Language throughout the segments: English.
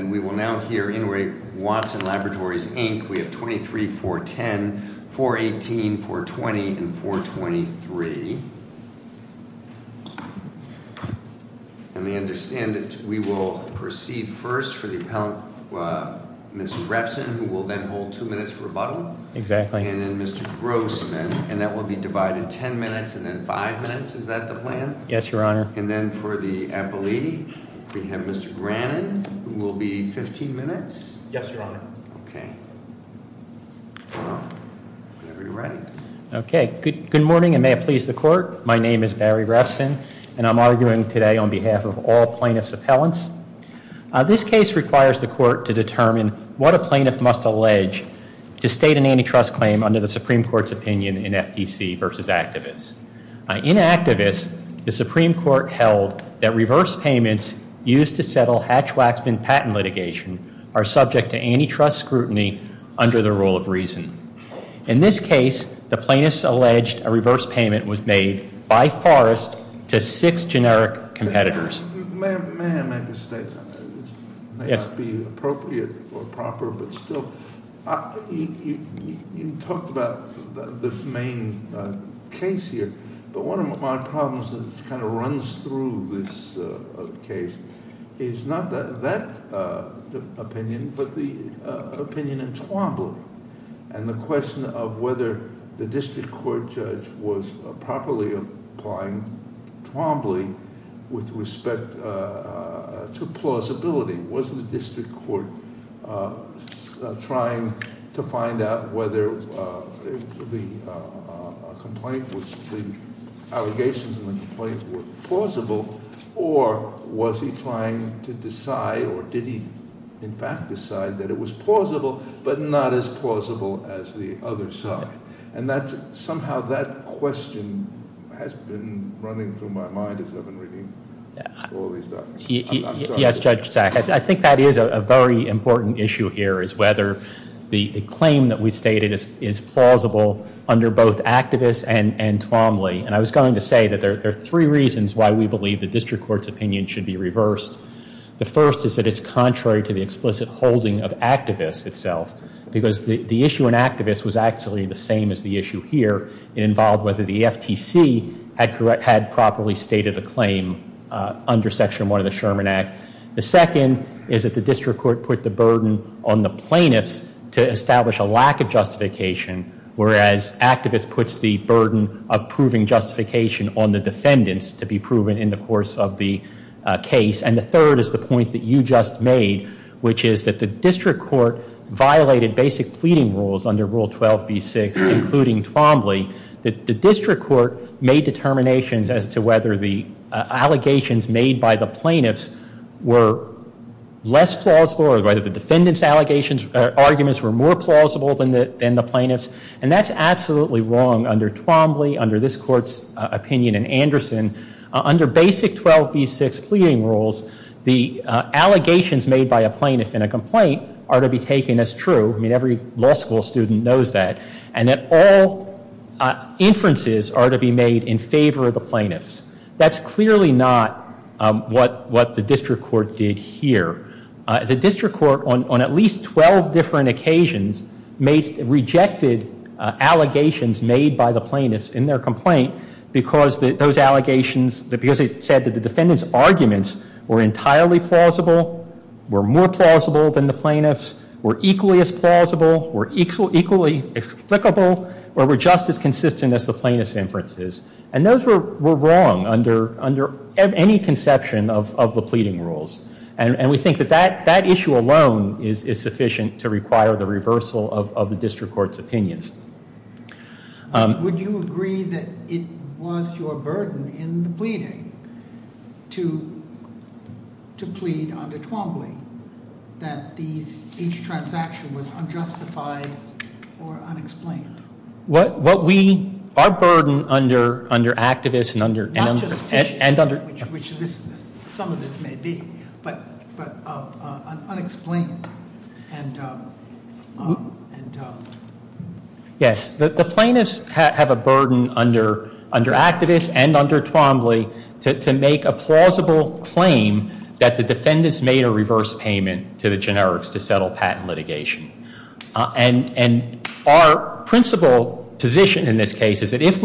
And we will now hear Inouye Watson Laboratories, Inc. We have 23, 410, 418, 420, and 423. And we understand that we will proceed first for the appellant, Mr. Refson, who will then hold two minutes for rebuttal. Exactly. And then Mr. Grossman, and that will be divided ten minutes and then five minutes, is that the plan? Yes, your honor. And then for the appellee, we have Mr. Brannon, who will be 15 minutes. Yes, your honor. Okay. Whenever you're ready. Okay, good morning, and may it please the court. My name is Barry Refson, and I'm arguing today on behalf of all plaintiff's appellants. This case requires the court to determine what a plaintiff must allege to state an antitrust claim under the Supreme Court's opinion in FTC versus activists. In activists, the Supreme Court held that reverse payments used to settle hatch waxman patent litigation are subject to antitrust scrutiny under the rule of reason. In this case, the plaintiff's alleged a reverse payment was made by Forrest to six generic competitors. May I make a statement? Yes. May not be appropriate or proper, but still. You talked about the main case here, but one of my problems that kind of runs through this case is not that opinion, but the opinion in Twombly and the question of whether the district court judge was properly applying Twombly with respect to plausibility, was the district court trying to find out whether the allegations in the complaint were plausible, or was he trying to decide, or did he in fact decide that it was plausible, but not as plausible as the other side, and somehow that question has been running through my mind as I've been reading all these documents. Yes, Judge Sack, I think that is a very important issue here, is whether the claim that we've stated is plausible under both activists and Twombly. And I was going to say that there are three reasons why we believe the district court's opinion should be reversed. The first is that it's contrary to the explicit holding of activists itself, because the issue in activists was actually the same as the issue here. It involved whether the FTC had properly stated a claim under Section 1 of the Sherman Act. The second is that the district court put the burden on the plaintiffs to establish a lack of justification, whereas activists puts the burden of proving justification on the defendants to be proven in the course of the case. And the third is the point that you just made, which is that the district court violated basic pleading rules under Rule 12b6, including Twombly, that the district court made determinations as to whether the allegations made by the plaintiffs were less plausible, or whether the defendant's arguments were more plausible than the plaintiff's. And that's absolutely wrong under Twombly, under this court's opinion in Anderson. Under basic 12b6 pleading rules, the allegations made by a plaintiff in a complaint are to be taken as true. I mean, every law school student knows that. And that all inferences are to be made in favor of the plaintiffs. That's clearly not what the district court did here. The district court, on at least 12 different occasions, rejected allegations made by the plaintiffs in their complaint. Because those allegations, because it said that the defendant's arguments were entirely plausible, were more plausible than the plaintiff's, were equally as plausible, were equally explicable, or were just as consistent as the plaintiff's inferences, and those were wrong under any conception of the pleading rules. And we think that that issue alone is sufficient to require the reversal of the district court's opinions. Would you agree that it was your burden in the pleading to plead under Twombly, that each transaction was unjustified or unexplained? What we, our burden under activists and under- Not just- And under- Which some of this may be, but unexplained and Yes, the plaintiffs have a burden under activists and under Twombly to make a plausible claim that the defendants made a reverse payment to the generics to settle patent litigation. And our principal position in this case is that if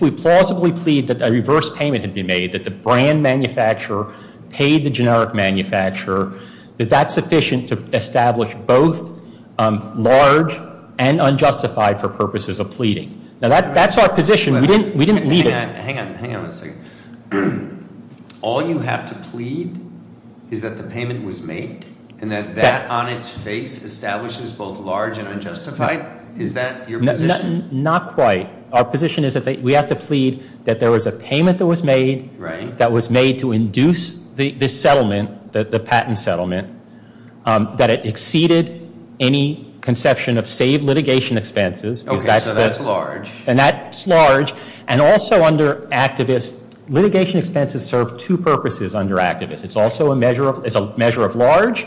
we plausibly plead that a reverse payment had been made, that the brand manufacturer paid the generic manufacturer, that that's sufficient to establish both large and unjustified for purposes of pleading. Now that's our position, we didn't leave it- Hang on, hang on a second. All you have to plead is that the payment was made, and that that on its face establishes both large and unjustified? Is that your position? Not quite. Our position is that we have to plead that there was a payment that was made- Right. The patent settlement, that it exceeded any conception of saved litigation expenses. Okay, so that's large. And that's large, and also under activists, litigation expenses serve two purposes under activists. It's also a measure of large,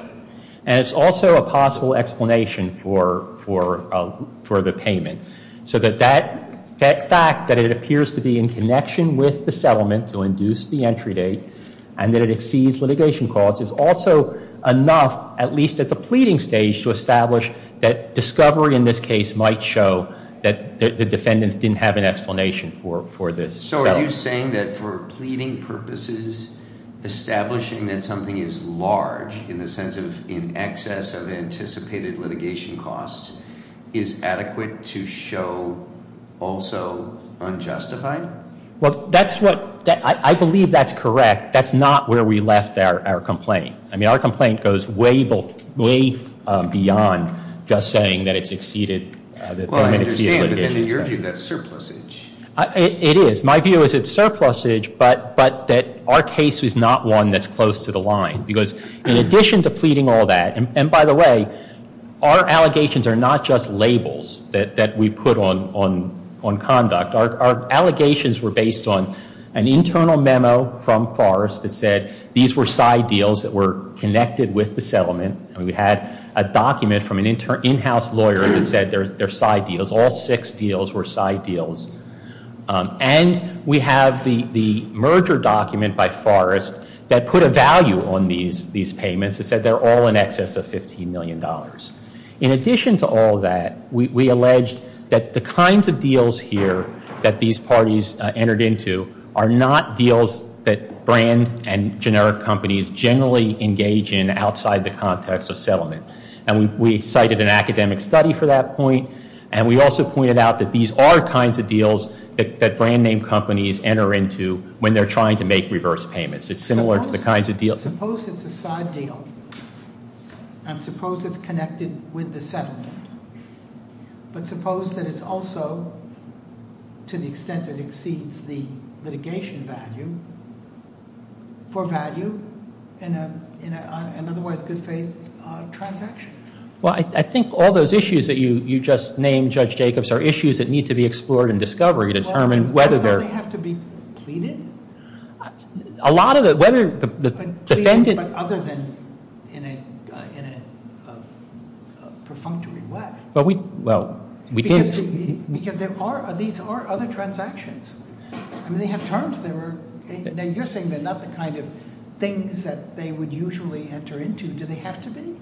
and it's also a possible explanation for the payment. So that fact that it appears to be in connection with the settlement to induce the entry date, and that it exceeds litigation costs is also enough, at least at the pleading stage, to establish that discovery in this case might show that the defendants didn't have an explanation for this. So are you saying that for pleading purposes, establishing that something is large, in the sense of in excess of anticipated litigation costs, is adequate to show also unjustified? Well, I believe that's correct. That's not where we left our complaint. I mean, our complaint goes way beyond just saying that it's exceeded- Well, I understand, but then in your view, that's surplusage. It is. My view is it's surplusage, but that our case is not one that's close to the line. Because in addition to pleading all that, and by the way, our allegations are not just labels that we put on conduct. Our allegations were based on an internal memo from Forrest that said, these were side deals that were connected with the settlement. And we had a document from an in-house lawyer that said they're side deals. All six deals were side deals. And we have the merger document by Forrest that put a value on these payments. It said they're all in excess of $15 million. In addition to all of that, we allege that the kinds of deals here that these parties entered into are not deals that brand and generic companies generally engage in outside the context of settlement. And we cited an academic study for that point. And we also pointed out that these are kinds of deals that brand name companies enter into when they're trying to make reverse payments. It's similar to the kinds of deals- It's connected with the settlement. But suppose that it's also, to the extent that it exceeds the litigation value, for value in an otherwise good faith transaction. Well, I think all those issues that you just named, Judge Jacobs, are issues that need to be explored in discovery to determine whether they're- Well, don't they have to be pleaded? A lot of the, whether the defendant- In a perfunctory way. Well, we did- Because there are, these are other transactions. I mean, they have terms. They were, now you're saying they're not the kind of things that they would usually enter into. Do they have to be?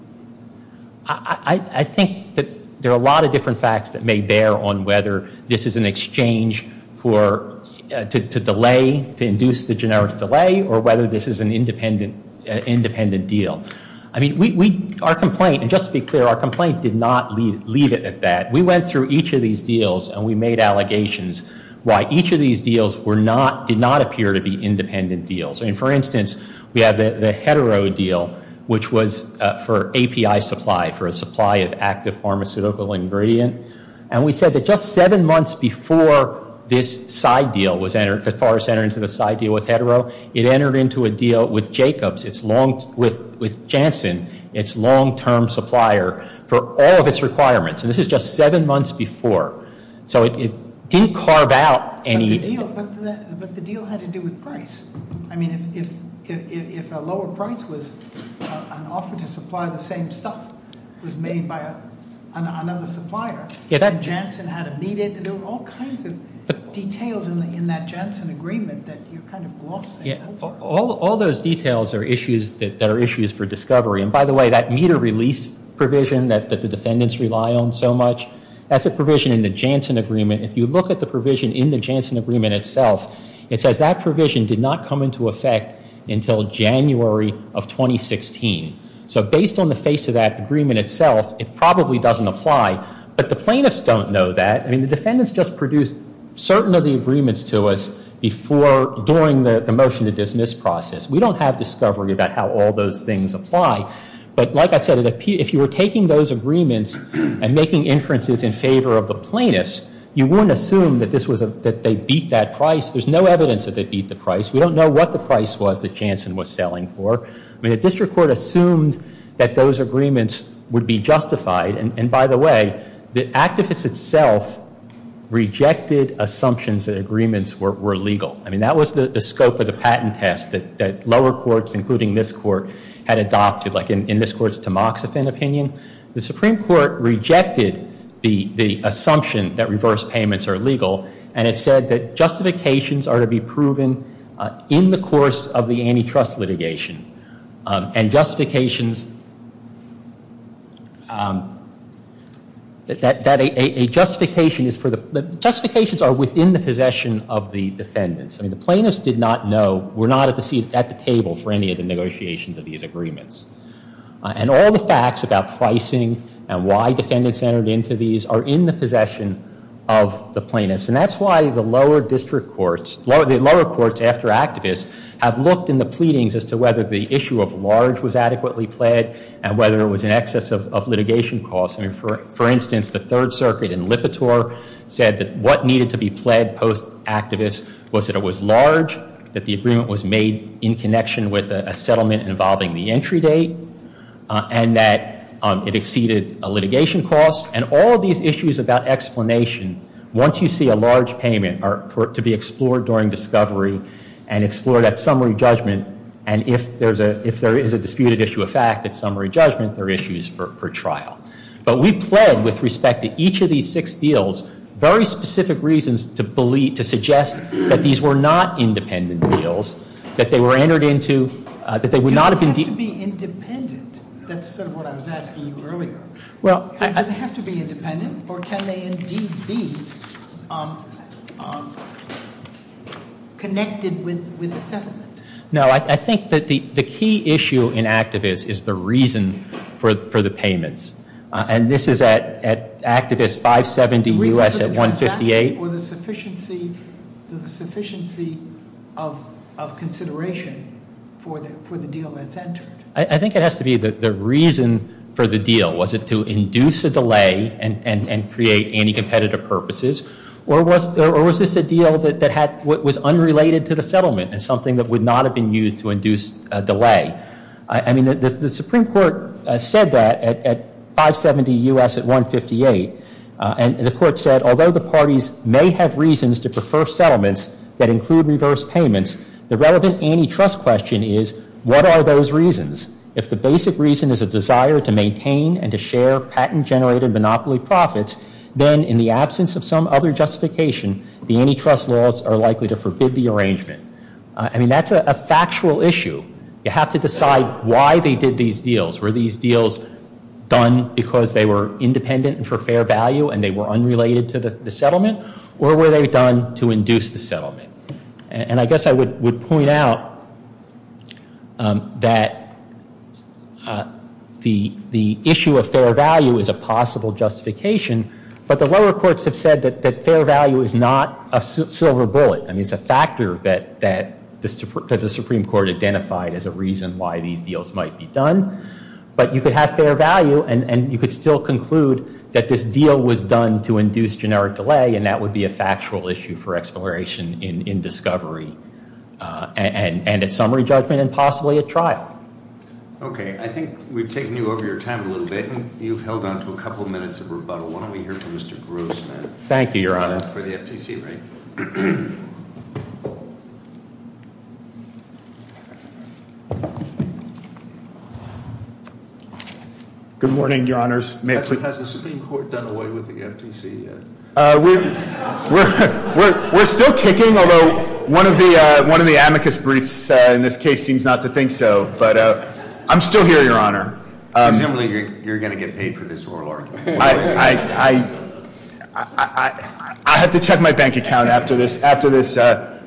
I think that there are a lot of different facts that may bear on whether this is an exchange for, to delay, to induce the generic delay, or whether this is an independent deal. I mean, our complaint, and just to be clear, our complaint did not leave it at that. We went through each of these deals and we made allegations why each of these deals were not, did not appear to be independent deals. And for instance, we had the hetero deal, which was for API supply, for a supply of active pharmaceutical ingredient. And we said that just seven months before this side deal was entered, because Paris entered into the side deal with hetero, it entered into a deal with Jacobs, with Janssen, its long-term supplier, for all of its requirements. And this is just seven months before, so it didn't carve out any- But the deal had to do with price. I mean, if a lower price was an offer to supply the same stuff, it was made by another supplier, and Janssen had to meet it. And there were all kinds of details in that Janssen agreement that you kind of glossed over. All those details are issues that are issues for discovery. And by the way, that meter release provision that the defendants rely on so much, that's a provision in the Janssen agreement. If you look at the provision in the Janssen agreement itself, it says that provision did not come into effect until January of 2016. So based on the face of that agreement itself, it probably doesn't apply. But the plaintiffs don't know that. I mean, the defendants just produced certain of the agreements to us before, during the motion to dismiss process. We don't have discovery about how all those things apply. But like I said, if you were taking those agreements and making inferences in favor of the plaintiffs, you wouldn't assume that they beat that price. There's no evidence that they beat the price. We don't know what the price was that Janssen was selling for. I mean, the district court assumed that those agreements would be justified. And by the way, the activist itself rejected assumptions that agreements were legal. I mean, that was the scope of the patent test that lower courts, including this court, had adopted. Like in this court's Tamoxifen opinion, the Supreme Court rejected the assumption that reverse payments are legal. And it said that justifications are to be proven in the course of the antitrust litigation. And justifications are within the possession of the defendants. I mean, the plaintiffs did not know, were not at the table for any of the negotiations of these agreements. And all the facts about pricing and why defendants entered into these are in the possession of the plaintiffs. And that's why the lower district courts, the lower courts after activists, have looked in the pleadings as to whether the issue of large was adequately pled, and whether it was in excess of litigation costs. I mean, for instance, the Third Circuit in Lipitor said that what needed to be pled post-activist was that it was large, that the agreement was made in connection with a settlement involving the entry date, and that it exceeded a litigation cost. And all these issues about explanation, once you see a large payment, are to be explored during discovery and explored at summary judgment. And if there is a disputed issue of fact at summary judgment, there are issues for trial. But we pled with respect to each of these six deals, very specific reasons to believe, to suggest that these were not independent deals, that they were entered into, that they would not have been- They have to be independent, that's sort of what I was asking you earlier. They have to be independent, or can they indeed be connected with the settlement? No, I think that the key issue in activists is the reason for the payments. And this is at activist 570 US at 158. Or the sufficiency of consideration for the deal that's entered. I think it has to be the reason for the deal. Was it to induce a delay and create anti-competitive purposes? Or was this a deal that was unrelated to the settlement and something that would not have been used to induce a delay? I mean, the Supreme Court said that at 570 US at 158. And the court said, although the parties may have reasons to prefer settlements that include reverse payments, the relevant antitrust question is, what are those reasons? If the basic reason is a desire to maintain and to share patent-generated monopoly profits, then in the absence of some other justification, the antitrust laws are likely to forbid the arrangement. I mean, that's a factual issue. You have to decide why they did these deals. Were these deals done because they were independent and for fair value and they were unrelated to the settlement? Or were they done to induce the settlement? And I guess I would point out that the issue of fair value is a possible justification. But the lower courts have said that fair value is not a silver bullet. I mean, it's a factor that the Supreme Court identified as a reason why these deals might be done. But you could have fair value and you could still conclude that this deal was done to induce generic delay and that would be a factual issue for exploration in discovery and at summary judgment and possibly at trial. Okay, I think we've taken you over your time a little bit and you've held on to a couple minutes of rebuttal. Why don't we hear from Mr. Grossman? Thank you, Your Honor. For the FTC, right? Good morning, Your Honors. May I please- Has the Supreme Court done away with the FTC yet? We're still kicking, although one of the amicus briefs in this case seems not to think so. But I'm still here, Your Honor. Presumably you're going to get paid for this oral argument. I have to check my bank account after this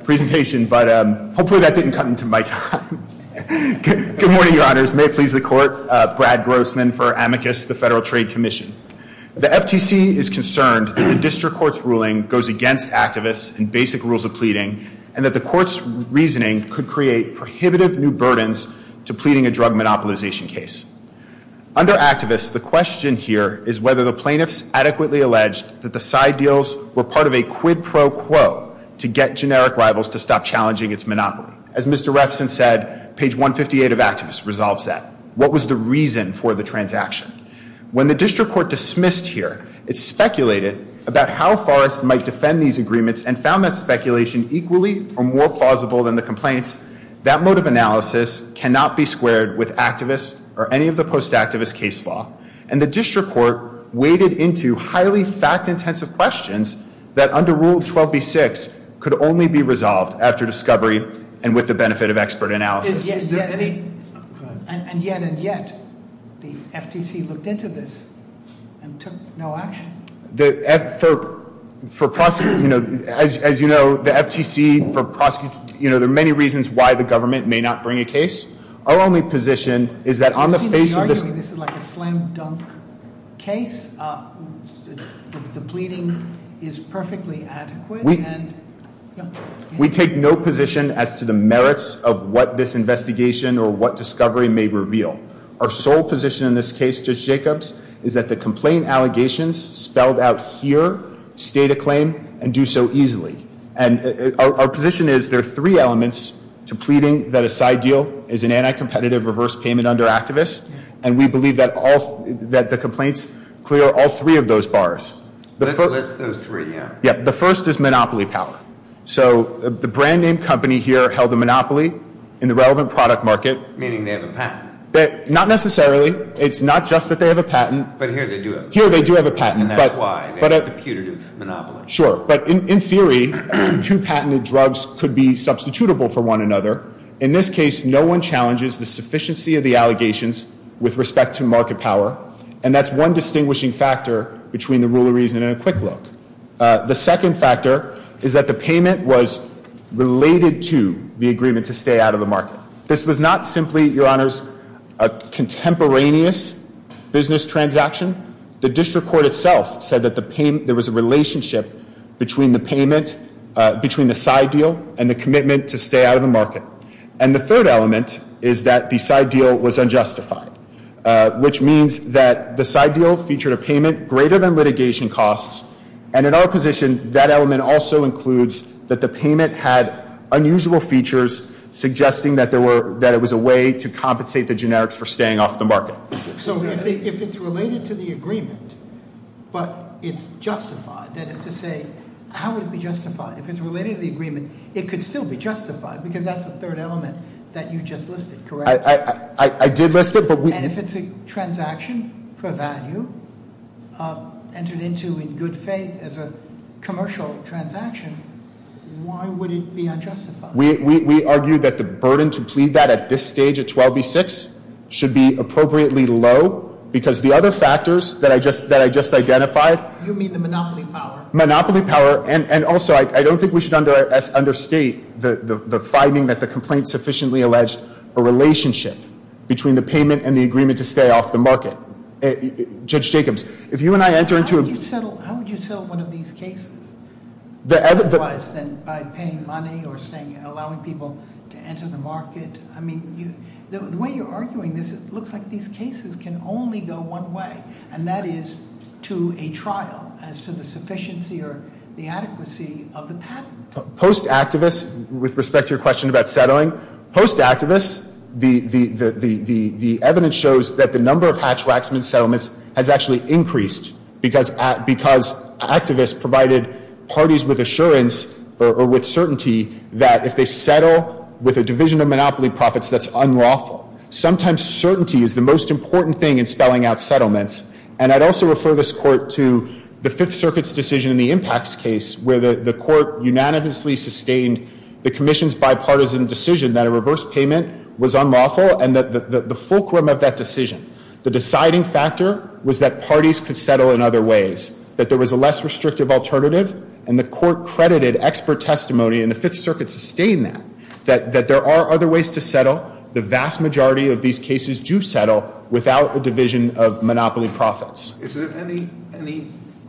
presentation, but hopefully that didn't cut into my time. Good morning, Your Honors. May it please the court. Brad Grossman for amicus, the Federal Trade Commission. The FTC is concerned that the district court's ruling goes against activists and basic rules of pleading. And that the court's reasoning could create prohibitive new burdens to pleading a drug monopolization case. Under activists, the question here is whether the plaintiffs adequately alleged that the side deals were part of a quid pro quo to get generic rivals to stop challenging its monopoly. As Mr. Refson said, page 158 of activists resolves that. What was the reason for the transaction? When the district court dismissed here, it speculated about how Forrest might defend these agreements and found that speculation equally or more plausible than the complaints. That motive analysis cannot be squared with activists or any of the post activist case law. And the district court weighted into highly fact intensive questions that under rule 12B6 could only be resolved after discovery and with the benefit of expert analysis. Is there any, and yet, and yet, the FTC looked into this and took no action. The, as you know, the FTC, there are many reasons why the government may not bring a case. Our only position is that on the face of this- You seem to be arguing this is like a slam dunk case. The pleading is perfectly adequate and, yeah. We take no position as to the merits of what this investigation or what discovery may reveal. Our sole position in this case, Judge Jacobs, is that the complaint allegations spelled out here stay to claim and do so easily. And our position is there are three elements to pleading that a side deal is an anti-competitive reverse payment under activists. And we believe that the complaints clear all three of those bars. The first- List those three, yeah. Yeah, the first is monopoly power. So the brand name company here held a monopoly in the relevant product market. Meaning they have a patent. Not necessarily. It's not just that they have a patent. But here they do have a patent. Here they do have a patent. And that's why. They have a putative monopoly. Sure, but in theory, two patented drugs could be substitutable for one another. In this case, no one challenges the sufficiency of the allegations with respect to market power. And that's one distinguishing factor between the rule of reason and a quick look. The second factor is that the payment was related to the agreement to stay out of the market. This was not simply, your honors, a contemporaneous business transaction. The district court itself said that there was a relationship between the payment, between the side deal and the commitment to stay out of the market. And the third element is that the side deal was unjustified. Which means that the side deal featured a payment greater than litigation costs. And in our position, that element also includes that the payment had unusual features suggesting that it was a way to compensate the generics for staying off the market. So if it's related to the agreement, but it's justified, that is to say, how would it be justified? If it's related to the agreement, it could still be justified, because that's a third element that you just listed, correct? I did list it, but we- And if it's a transaction for value entered into in good faith as a commercial transaction, why would it be unjustified? We argue that the burden to plead that at this stage at 12B6 should be appropriately low. Because the other factors that I just identified- You mean the monopoly power? Monopoly power, and also, I don't think we should understate the finding that the complaint sufficiently alleged a relationship between the payment and the agreement to stay off the market. Judge Jacobs, if you and I enter into a- How would you settle one of these cases? Otherwise, then by paying money or allowing people to enter the market. I mean, the way you're arguing this, it looks like these cases can only go one way. And that is to a trial, as to the sufficiency or the adequacy of the patent. Post-activists, with respect to your question about settling. Post-activists, the evidence shows that the number of Hatch-Waxman settlements has actually increased because activists provided parties with assurance or with certainty that if they settle with a division of monopoly profits, that's unlawful. Sometimes certainty is the most important thing in spelling out settlements. And I'd also refer this court to the Fifth Circuit's decision in the impacts case, where the court unanimously sustained the commission's bipartisan decision that a reverse payment was unlawful, and the fulcrum of that decision. The deciding factor was that parties could settle in other ways, that there was a less restrictive alternative. And the court credited expert testimony, and the Fifth Circuit sustained that, that there are other ways to settle. The vast majority of these cases do settle without a division of monopoly profits. Is there any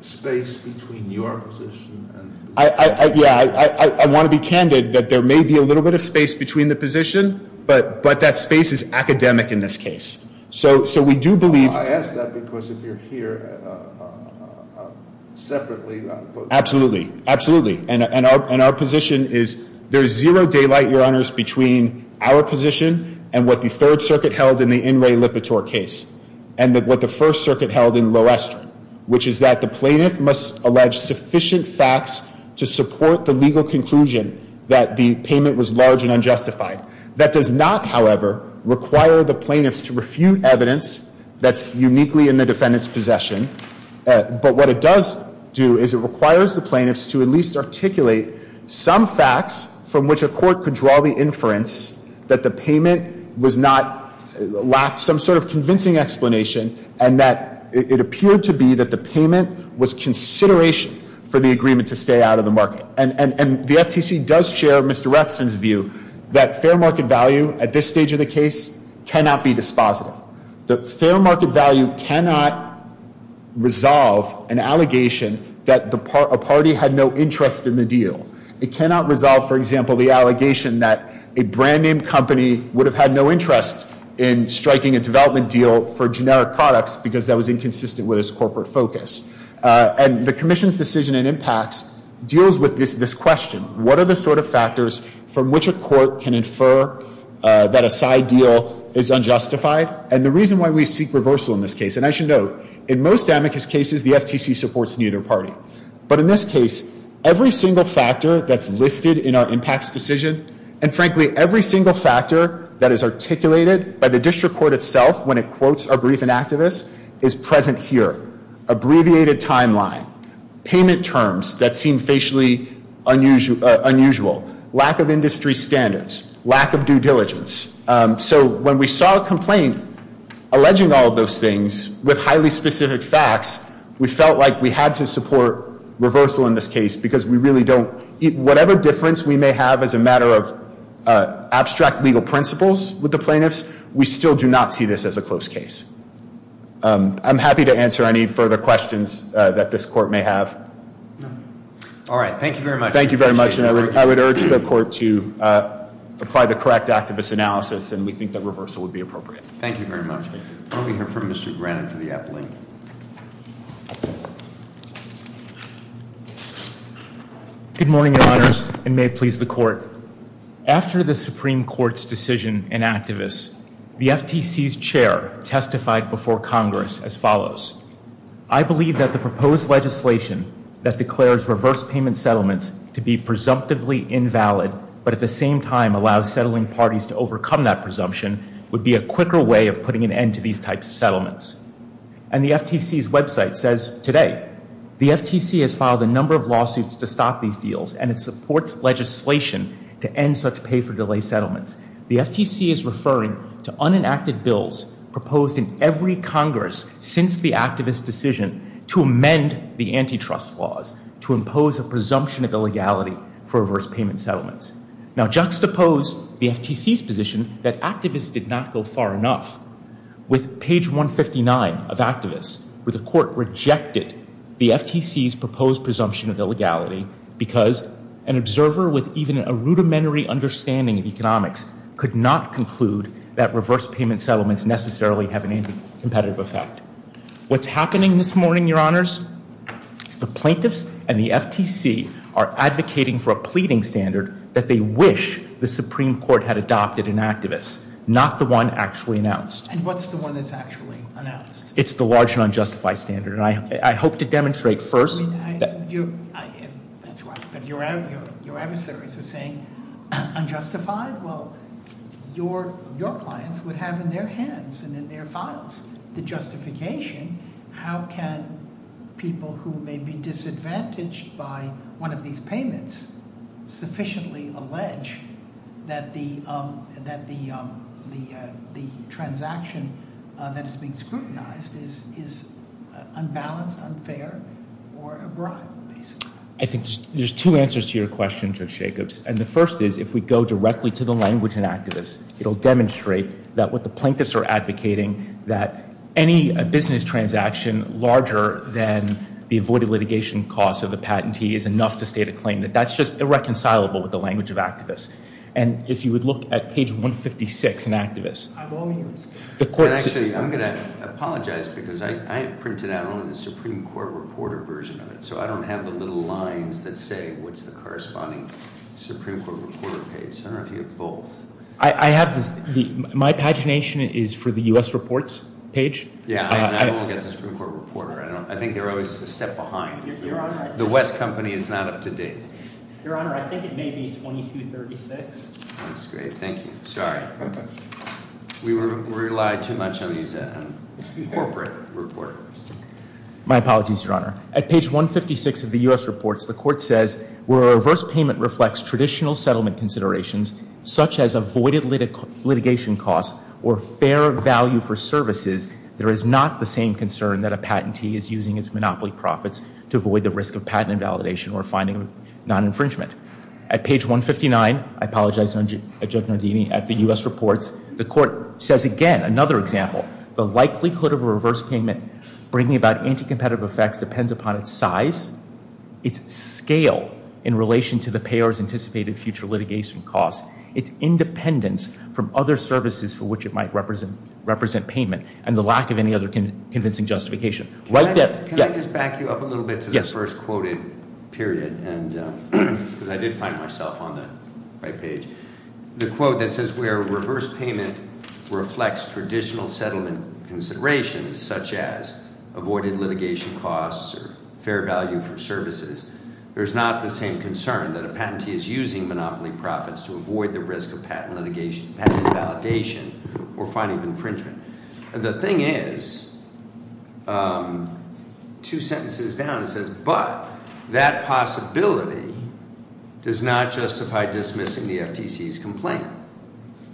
space between your position and- Yeah, I want to be candid that there may be a little bit of space between the position, but that space is academic in this case. So we do believe- I ask that because if you're here separately- Absolutely, absolutely. And our position is there is zero daylight, Your Honors, between our position and what the Third Circuit held in the In Re Lipitor case, and what the First Circuit held in Loester. Which is that the plaintiff must allege sufficient facts to support the legal conclusion that the payment was large and unjustified. That does not, however, require the plaintiffs to refute evidence that's uniquely in the defendant's possession. But what it does do is it requires the plaintiffs to at least articulate some facts from which a court could draw the inference that the payment was not, lacked some sort of convincing explanation. And that it appeared to be that the payment was consideration for the agreement to stay out of the market. And the FTC does share Mr. Refson's view that fair market value at this stage of the case cannot be dispositive. The fair market value cannot resolve an allegation that a party had no interest in the deal. It cannot resolve, for example, the allegation that a brand name company would have had no interest in striking a development deal for generic products because that was inconsistent with its corporate focus. And the commission's decision in impacts deals with this question. What are the sort of factors from which a court can infer that a side deal is unjustified? And the reason why we seek reversal in this case, and I should note, in most amicus cases, the FTC supports neither party. But in this case, every single factor that's listed in our impacts decision, and frankly, every single factor that is articulated by the district court itself when it quotes a briefing activist, is present here. Abbreviated timeline, payment terms that seem facially unusual, lack of industry standards, lack of due diligence. So when we saw a complaint alleging all of those things with highly specific facts, we felt like we had to support reversal in this case because we really don't, whatever difference we may have as a matter of abstract legal principles with the plaintiffs, we still do not see this as a close case. I'm happy to answer any further questions that this court may have. All right, thank you very much. Thank you very much, and I would urge the court to apply the correct activist analysis, and we think that reversal would be appropriate. Thank you very much. We'll be here for Mr. Brannon for the epilogue. Good morning, your honors, and may it please the court. After the Supreme Court's decision in activists, the FTC's chair testified before Congress as follows. I believe that the proposed legislation that declares reverse payment settlements to be presumptively invalid, but at the same time allows settling parties to overcome that presumption, would be a quicker way of putting an end to these types of settlements. And the FTC's website says today, the FTC has filed a number of lawsuits to stop these deals, and it supports legislation to end such pay for delay settlements. The FTC is referring to unenacted bills proposed in every Congress since the activist decision to amend the antitrust laws to impose a presumption of illegality for reverse payment settlements. Now, juxtapose the FTC's position that activists did not go far enough with page 159 of activists, where the court rejected the FTC's proposed presumption of illegality because an observer with even a rudimentary understanding of economics could not conclude that reverse payment settlements necessarily have an anti-competitive effect. What's happening this morning, your honors, is the plaintiffs and the FTC are advocating for a pleading standard that they wish the Supreme Court had adopted in activists, not the one actually announced. And what's the one that's actually announced? It's the large and unjustified standard, and I hope to demonstrate first- I mean, that's right, but your adversaries are saying unjustified? Well, your clients would have in their hands and in their files the justification. How can people who may be disadvantaged by one of these payments sufficiently allege that the transaction that is being scrutinized is unbalanced, unfair, or a bribe, basically? I think there's two answers to your question, Judge Jacobs. And the first is, if we go directly to the language in activists, it'll demonstrate that what the plaintiffs are advocating, that any business transaction larger than the avoided litigation cost of the patentee is enough to state a claim. That that's just irreconcilable with the language of activists. And if you would look at page 156 in activists- I've only used- Actually, I'm going to apologize, because I printed out only the Supreme Court reporter version of it, so I don't have the little lines that say what's the corresponding Supreme Court reporter page. I don't know if you have both. I have the- my pagination is for the U.S. Reports page. Yeah, and I don't get the Supreme Court reporter. I don't- I think they're always a step behind. The West Company is not up to date. Your Honor, I think it may be 2236. That's great, thank you. Sorry. We rely too much on these corporate reporters. My apologies, Your Honor. At page 156 of the U.S. Reports, the court says, where a reverse payment reflects traditional settlement considerations, such as avoided litigation costs or fair value for services, there is not the same concern that a patentee is using its monopoly profits to avoid the risk of patent invalidation or finding non-infringement. At page 159, I apologize, Judge Nardini, at the U.S. Reports, the court says again, another example, the likelihood of a reverse payment bringing about anti-competitive effects depends upon its size, its scale in relation to the payer's anticipated future litigation costs, its independence from other services for which it might represent payment, and the lack of any other convincing justification. Right there, yeah. Can I just back you up a little bit to the first quoted period, because I did find myself on the right page. The quote that says where reverse payment reflects traditional settlement considerations, such as avoided litigation costs or fair value for services. There's not the same concern that a patentee is using monopoly profits to avoid the risk of patent invalidation or finding infringement. The thing is, two sentences down, it says, but that possibility does not justify dismissing the FTC's complaint.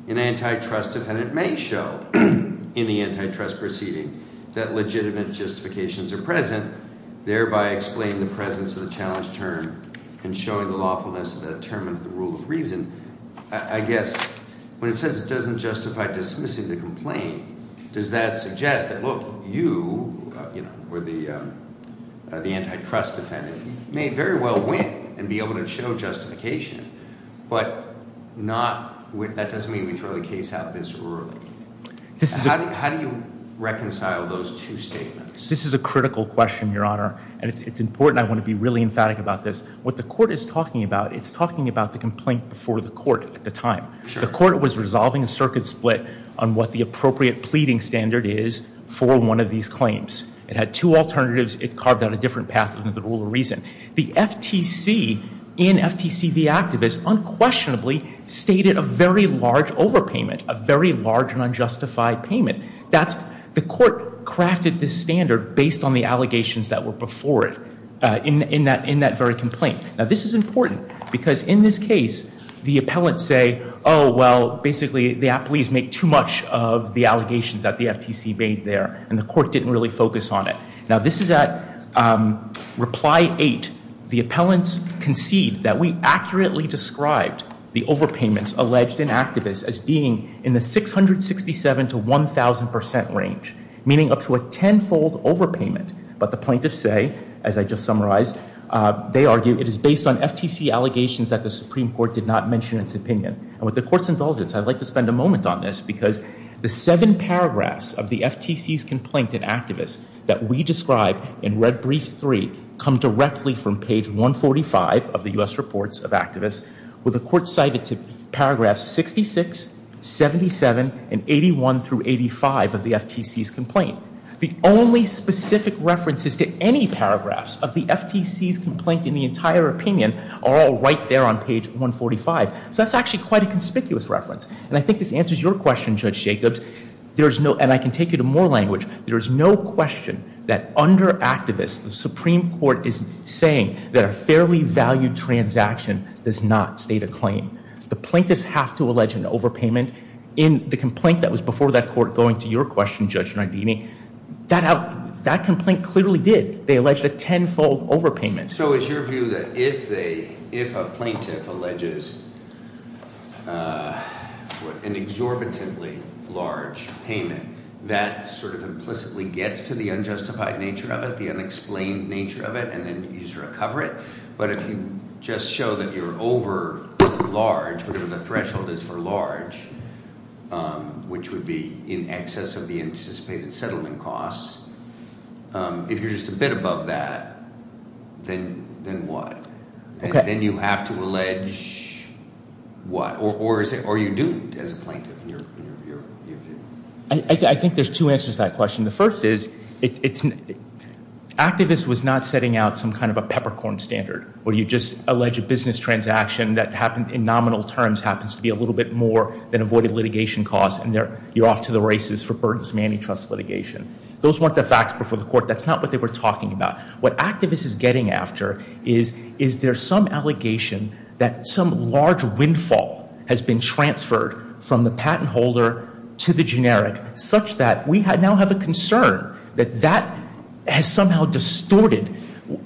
An antitrust defendant may show in the antitrust proceeding that legitimate justifications are present, thereby explaining the presence of the challenge term and showing the lawfulness of that term under the rule of reason. I guess, when it says it doesn't justify dismissing the complaint, does that suggest that look, you, or the antitrust defendant, may very well win and be able to show justification, but that doesn't mean we throw the case out this early. How do you reconcile those two statements? This is a critical question, your honor, and it's important. I want to be really emphatic about this. What the court is talking about, it's talking about the complaint before the court at the time. The court was resolving a circuit split on what the appropriate pleading standard is for one of these claims. It had two alternatives, it carved out a different path under the rule of reason. The FTC, in FTC the activist, unquestionably stated a very large overpayment, a very large and unjustified payment. The court crafted this standard based on the allegations that were before it, in that very complaint. Now this is important, because in this case, the appellants say, well, basically the appellees make too much of the allegations that the FTC made there, and the court didn't really focus on it. Now this is at reply eight. The appellants concede that we accurately described the overpayments alleged in the 1,000% range, meaning up to a tenfold overpayment. But the plaintiffs say, as I just summarized, they argue it is based on FTC allegations that the Supreme Court did not mention its opinion. With the court's indulgence, I'd like to spend a moment on this, because the seven paragraphs of the FTC's complaint in activists that we described in red brief three come directly from page 145 of the US Reports of Activists. With the court cited to paragraphs 66, 77, and 81 through 85 of the FTC's complaint. The only specific references to any paragraphs of the FTC's complaint in the entire opinion are all right there on page 145. So that's actually quite a conspicuous reference, and I think this answers your question, Judge Jacobs. There is no, and I can take you to more language, there is no question that under activists, the Supreme Court is saying that a fairly valued transaction does not state a claim. The plaintiffs have to allege an overpayment in the complaint that was before that court going to your question, Judge Nardini. That complaint clearly did. They alleged a tenfold overpayment. So it's your view that if a plaintiff alleges an exorbitantly large payment, that sort of implicitly gets to the unjustified nature of it, the unexplained nature of it, and then you just recover it. But if you just show that you're over large, whatever the threshold is for large, which would be in excess of the anticipated settlement costs, if you're just a bit above that, then what? And then you have to allege what? Or you're doomed as a plaintiff in your view? I think there's two answers to that question. The first is, activist was not setting out some kind of a peppercorn standard, where you just allege a business transaction that happened in nominal terms happens to be a little bit more than avoided litigation costs. And you're off to the races for burdensome antitrust litigation. Those weren't the facts before the court. That's not what they were talking about. What activists is getting after is, is there some allegation that some large windfall has been transferred from the patent holder to the generic such that we now have a concern that that has somehow distorted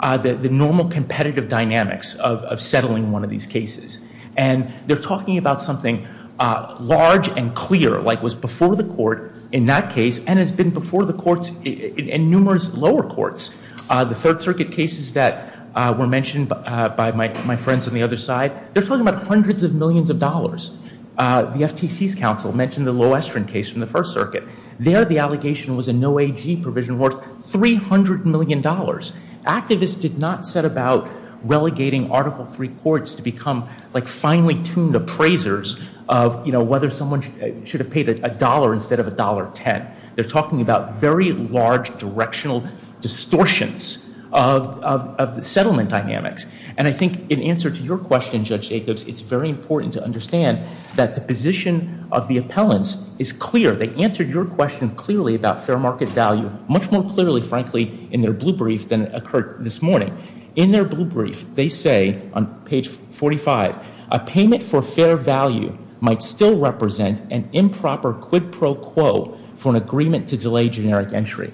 the normal competitive dynamics of settling one of these cases. And they're talking about something large and clear, like was before the court in that case, and has been before the courts in numerous lower courts. The Third Circuit cases that were mentioned by my friends on the other side, they're talking about hundreds of millions of dollars. The FTC's counsel mentioned the Lowestrand case from the First Circuit. There, the allegation was a no AG provision worth $300 million. Activists did not set about relegating Article III courts to become like finely tuned appraisers of, you know, whether someone should have paid a dollar instead of $1.10. They're talking about very large directional distortions of the settlement dynamics. And I think in answer to your question, Judge Jacobs, it's very important to understand that the position of the appellants is clear. They answered your question clearly about fair market value, much more clearly, frankly, in their blue brief than occurred this morning. In their blue brief, they say on page 45, a payment for fair value might still represent an improper quid pro quo for an agreement to delay generic entry.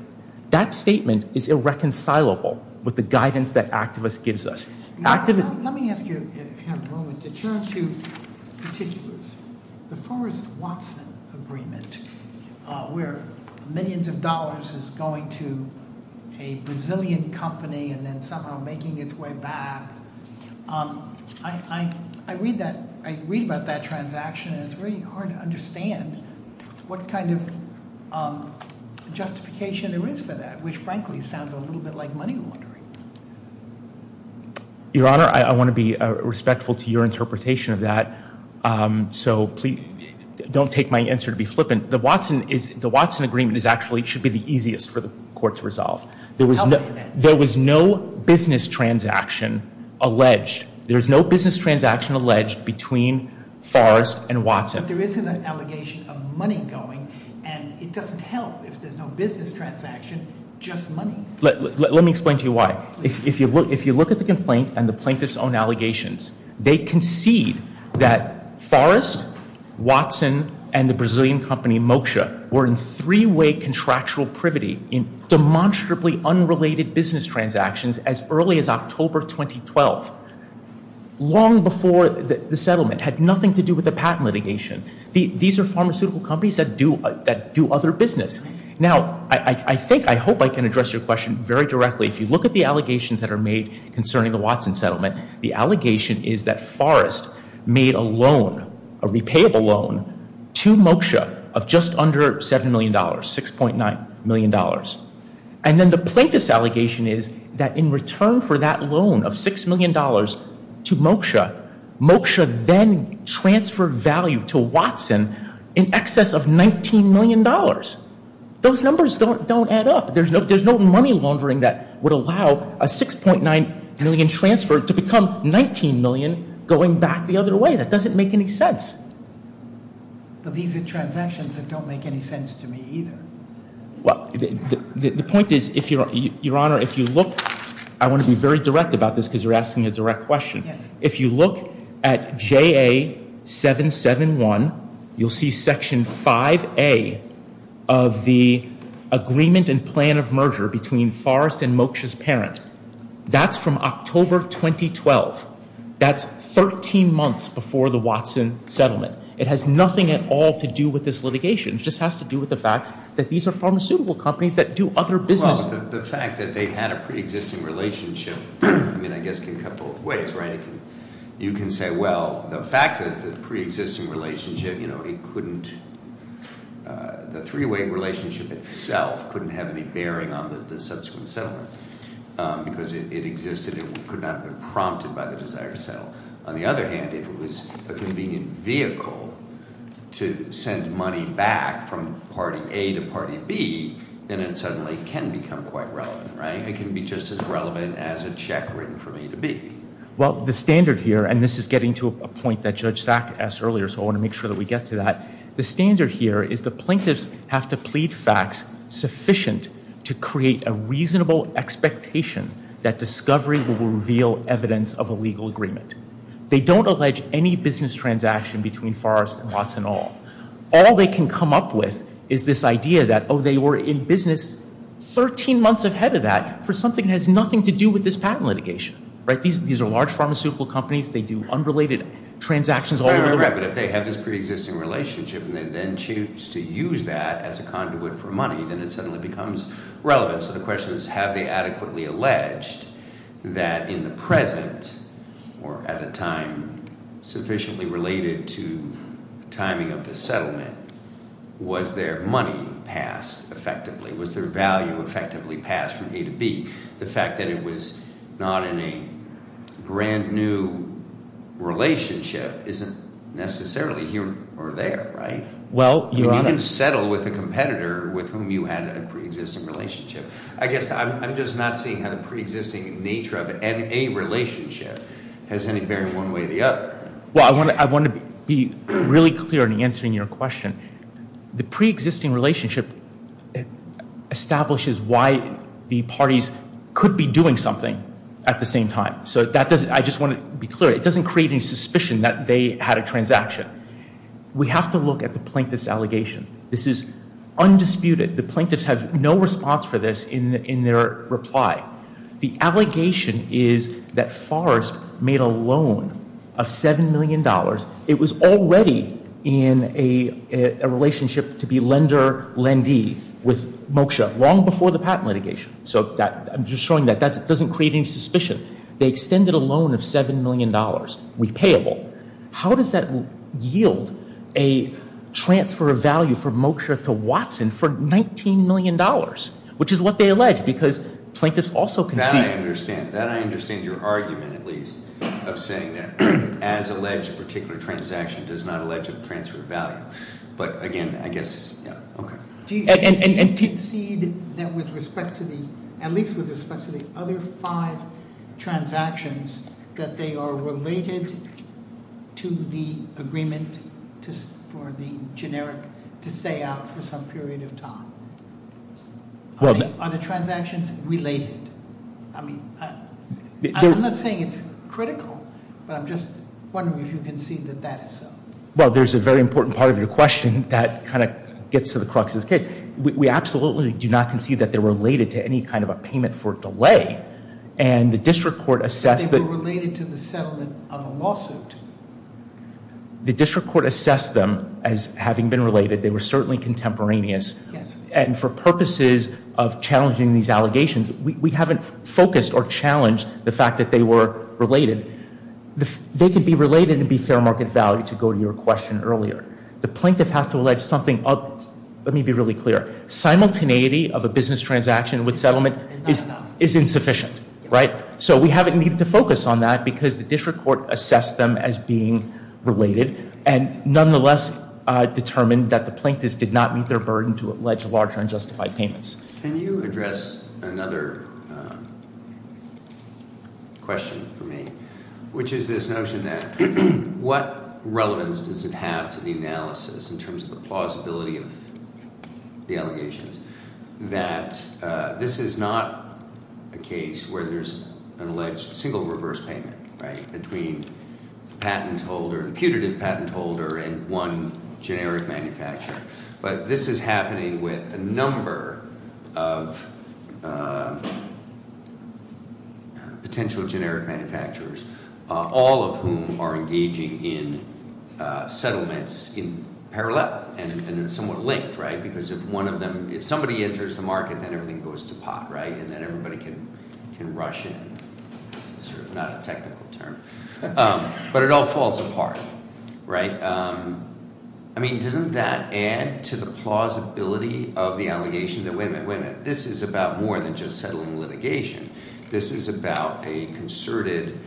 That statement is irreconcilable with the guidance that activists gives us. Activists- Let me ask you, if you have a moment, to turn to particulars. The Forrest Watson agreement, where millions of dollars is going to a Brazilian company and then somehow making its way back, I read about that transaction. And it's very hard to understand what kind of justification there is for that, which frankly sounds a little bit like money laundering. Your Honor, I want to be respectful to your interpretation of that. So please don't take my answer to be flippant. The Watson agreement is actually, should be the easiest for the court to resolve. There was no business transaction alleged. There's no business transaction alleged between Forrest and Watson. But there is an allegation of money going, and it doesn't help if there's no business transaction, just money. Let me explain to you why. If you look at the complaint and the plaintiff's own allegations, they concede that Forrest, Watson, and the Brazilian company, Moksha, were in three-way contractual privity in demonstrably unrelated business transactions as early as October 2012, long before the settlement, had nothing to do with the patent litigation. These are pharmaceutical companies that do other business. Now, I think, I hope I can address your question very directly. If you look at the allegations that are made concerning the Watson settlement, the allegation is that Forrest made a loan, a repayable loan, to Moksha of just under $7 million, $6.9 million. And then the plaintiff's allegation is that in return for that loan of $6 million to Moksha, Moksha then transferred value to Watson in excess of $19 million. Those numbers don't add up. There's no money laundering that would allow a $6.9 million transfer to become $19 million going back the other way. It doesn't make any sense. But these are transactions that don't make any sense to me either. Well, the point is, if your honor, if you look, I want to be very direct about this because you're asking a direct question. If you look at JA 771, you'll see section 5A of the agreement and plan of merger between Forrest and Moksha's parent. That's from October 2012. That's 13 months before the Watson settlement. It has nothing at all to do with this litigation. It just has to do with the fact that these are pharmaceutical companies that do other business. The fact that they had a pre-existing relationship, I mean, I guess can cut both ways, right? You can say, well, the fact of the pre-existing relationship, you know, it couldn't, the three-way relationship itself couldn't have any bearing on the subsequent settlement because it existed, it could not have been prompted by the desire to settle. On the other hand, if it was a convenient vehicle to send money back from party A to party B, then it suddenly can become quite relevant, right? It can be just as relevant as a check written from A to B. Well, the standard here, and this is getting to a point that Judge Sack asked earlier, so I want to make sure that we get to that. The standard here is the plaintiffs have to plead facts sufficient to create a reasonable expectation that discovery will reveal evidence of a legal agreement. They don't allege any business transaction between Forrest and Watson at all. All they can come up with is this idea that, oh, they were in business 13 months ahead of that for something that has nothing to do with this patent litigation, right? These are large pharmaceutical companies. They do unrelated transactions all over the world. Right, but if they have this pre-existing relationship and they then choose to use that as a conduit for money, then it suddenly becomes relevant. So the question is, have they adequately alleged that in the present, or at a time sufficiently related to the timing of the settlement, was their money passed effectively? Was their value effectively passed from A to B? The fact that it was not in a brand new relationship isn't necessarily here or there, right? Well, you're on a- You can settle with a competitor with whom you had a pre-existing relationship. I guess I'm just not seeing how the pre-existing nature of a relationship has any bearing one way or the other. Well, I want to be really clear in answering your question. The pre-existing relationship establishes why the parties could be doing something at the same time. So that doesn't- I just want to be clear. It doesn't create any suspicion that they had a transaction. We have to look at the plaintiff's allegation. This is undisputed. The plaintiffs have no response for this in their reply. The allegation is that Forrest made a loan of $7 million. It was already in a relationship to be lender-lendee with Moksha long before the patent litigation. So I'm just showing that. That doesn't create any suspicion. They extended a loan of $7 million, repayable. How does that yield a transfer of value for Moksha to Watson for $19 million? Which is what they allege, because plaintiffs also concede- That I understand. That I understand your argument, at least, of saying that as alleged, a particular transaction does not allege a transfer of value. But again, I guess, yeah, okay. And do you concede that with respect to the, at least with respect to the other five transactions, that they are related to the agreement for the generic to stay out for some period of time? Are the transactions related? I mean, I'm not saying it's critical, but I'm just wondering if you can see that that is so. Well, there's a very important part of your question that kind of gets to the crux of the case. We absolutely do not concede that they're related to any kind of a payment for delay. And the district court assessed- That they were related to the settlement of a lawsuit. The district court assessed them as having been related. They were certainly contemporaneous. And for purposes of challenging these allegations, we haven't focused or challenged the fact that they were related. They could be related and be fair market value, to go to your question earlier. The plaintiff has to allege something else. Let me be really clear. Simultaneity of a business transaction with settlement is insufficient, right? So we haven't needed to focus on that because the district court assessed them as being related. And nonetheless, determined that the plaintiffs did not meet their burden to allege larger unjustified payments. Can you address another question for me? Which is this notion that what relevance does it have to the analysis in terms of the plausibility of the allegations? That this is not a case where there's an alleged single reverse payment, right? Between the putative patent holder and one generic manufacturer. But this is happening with a number of potential generic manufacturers, all of whom are engaging in settlements in parallel and in somewhat linked, right? Because if somebody enters the market, then everything goes to pot, right? And then everybody can rush in. This is sort of not a technical term, but it all falls apart, right? I mean, doesn't that add to the plausibility of the allegation that, wait a minute, wait a minute. This is about more than just settling litigation. This is about a concerted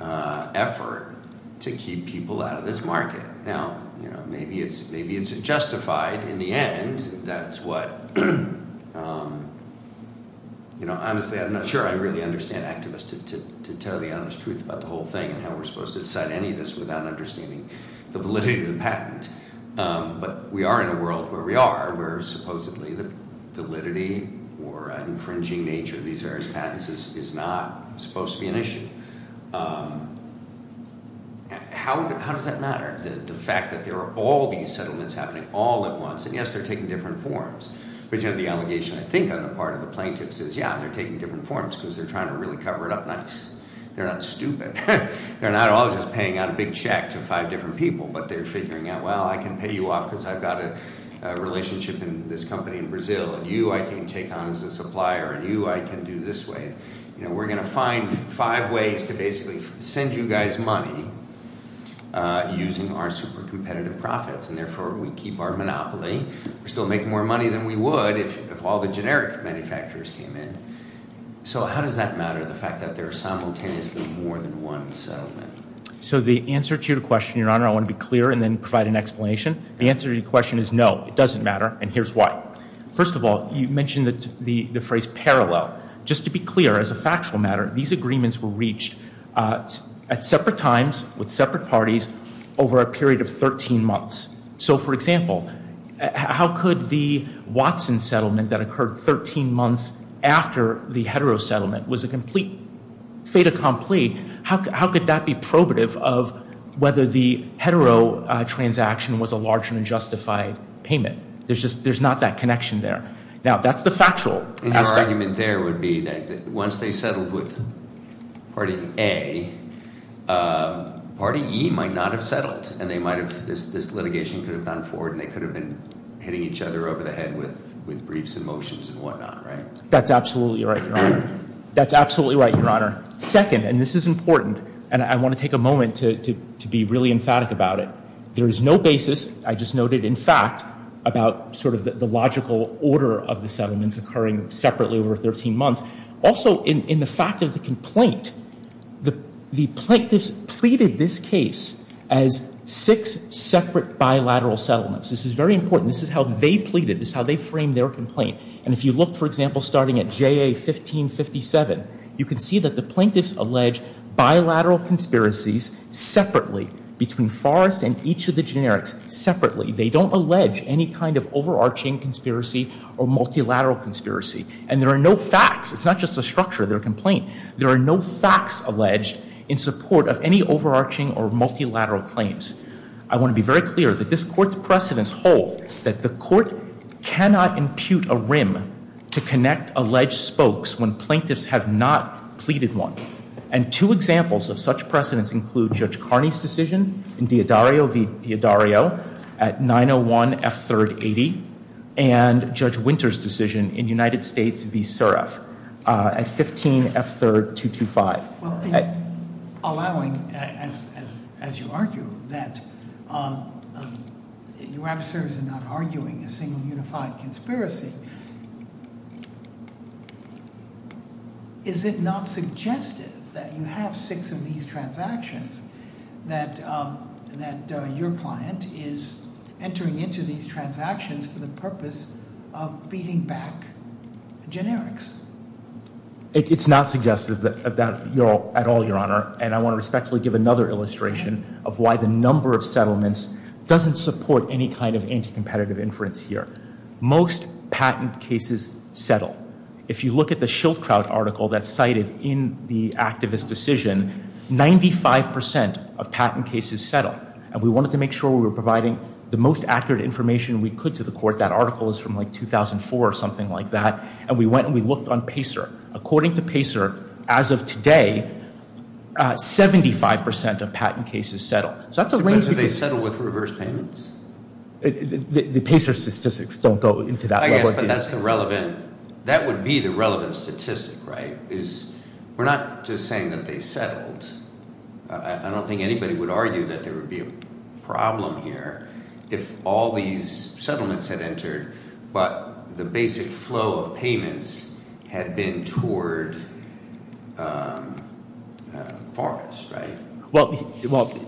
effort to keep people out of this market. Now, maybe it's justified in the end. That's what, honestly, I'm not sure I really understand activists to tell the honest truth about the whole thing. And how we're supposed to decide any of this without understanding the validity of the patent. But we are in a world where we are, where supposedly the validity or an infringing nature of these various patents is not supposed to be an issue. How does that matter, the fact that there are all these settlements happening all at once? And yes, they're taking different forms. But you have the allegation, I think, on the part of the plaintiffs is, yeah, they're taking different forms because they're trying to really cover it up nice. They're not stupid. They're not all just paying out a big check to five different people. But they're figuring out, well, I can pay you off because I've got a relationship in this company in Brazil. And you, I can take on as a supplier. And you, I can do this way. We're going to find five ways to basically send you guys money using our super competitive profits. And therefore, we keep our monopoly. We're still making more money than we would if all the generic manufacturers came in. So how does that matter, the fact that there are simultaneously more than one settlement? So the answer to your question, Your Honor, I want to be clear and then provide an explanation. The answer to your question is no, it doesn't matter, and here's why. First of all, you mentioned the phrase parallel. Just to be clear, as a factual matter, these agreements were reached at separate times, with separate parties, over a period of 13 months. So, for example, how could the Watson settlement that occurred 13 months after the hetero settlement was a complete fait accompli, how could that be probative of whether the hetero transaction was a large and unjustified payment? There's not that connection there. Now, that's the factual aspect. And your argument there would be that once they settled with party A, party E might not have settled, and they might have, this litigation could have gone forward, and they could have been hitting each other over the head with briefs and motions and whatnot, right? That's absolutely right, Your Honor. That's absolutely right, Your Honor. Second, and this is important, and I want to take a moment to be really emphatic about it. There is no basis, I just noted, in fact, about sort of the logical order of the settlements occurring separately over 13 months. Also, in the fact of the complaint, the plaintiffs pleaded this case as six separate bilateral settlements. This is very important. This is how they pleaded. This is how they framed their complaint. And if you look, for example, starting at JA 1557, you can see that the plaintiffs allege bilateral conspiracies separately between Forrest and each of the generics separately. They don't allege any kind of overarching conspiracy or multilateral conspiracy. And there are no facts. It's not just a structure of their complaint. There are no facts alleged in support of any overarching or multilateral claims. I want to be very clear that this court's precedents hold that the court cannot impute a rim to connect alleged spokes when plaintiffs have not pleaded one. And two examples of such precedents include Judge Carney's decision in D'Addario v. D'Addario at 901 F380 and Judge Winter's decision in United States v. Suref at 15 F3 225. Well, allowing, as you argue, that you have serves in not arguing a single unified conspiracy. Is it not suggestive that you have six of these transactions that your client is entering into these transactions for the purpose of beating back generics? It's not suggestive of that at all, Your Honor. And I want to respectfully give another illustration of why the number of settlements doesn't support any kind of anti-competitive inference here. Most patent cases settle. If you look at the Schildkraut article that's cited in the activist decision, 95% of patent cases settle. And we wanted to make sure we were providing the most accurate information we could to the court. That article is from like 2004 or something like that. And we went and we looked on Pacer. According to Pacer, as of today, 75% of patent cases settle. So that's a range of- Do they settle with reverse payments? The Pacer statistics don't go into that. I guess, but that's the relevant, that would be the relevant statistic, right? Is, we're not just saying that they settled, I don't think anybody would argue that there would be a problem here if all these settlements had entered, but the basic flow of payments had been toward Forrest, right? Well,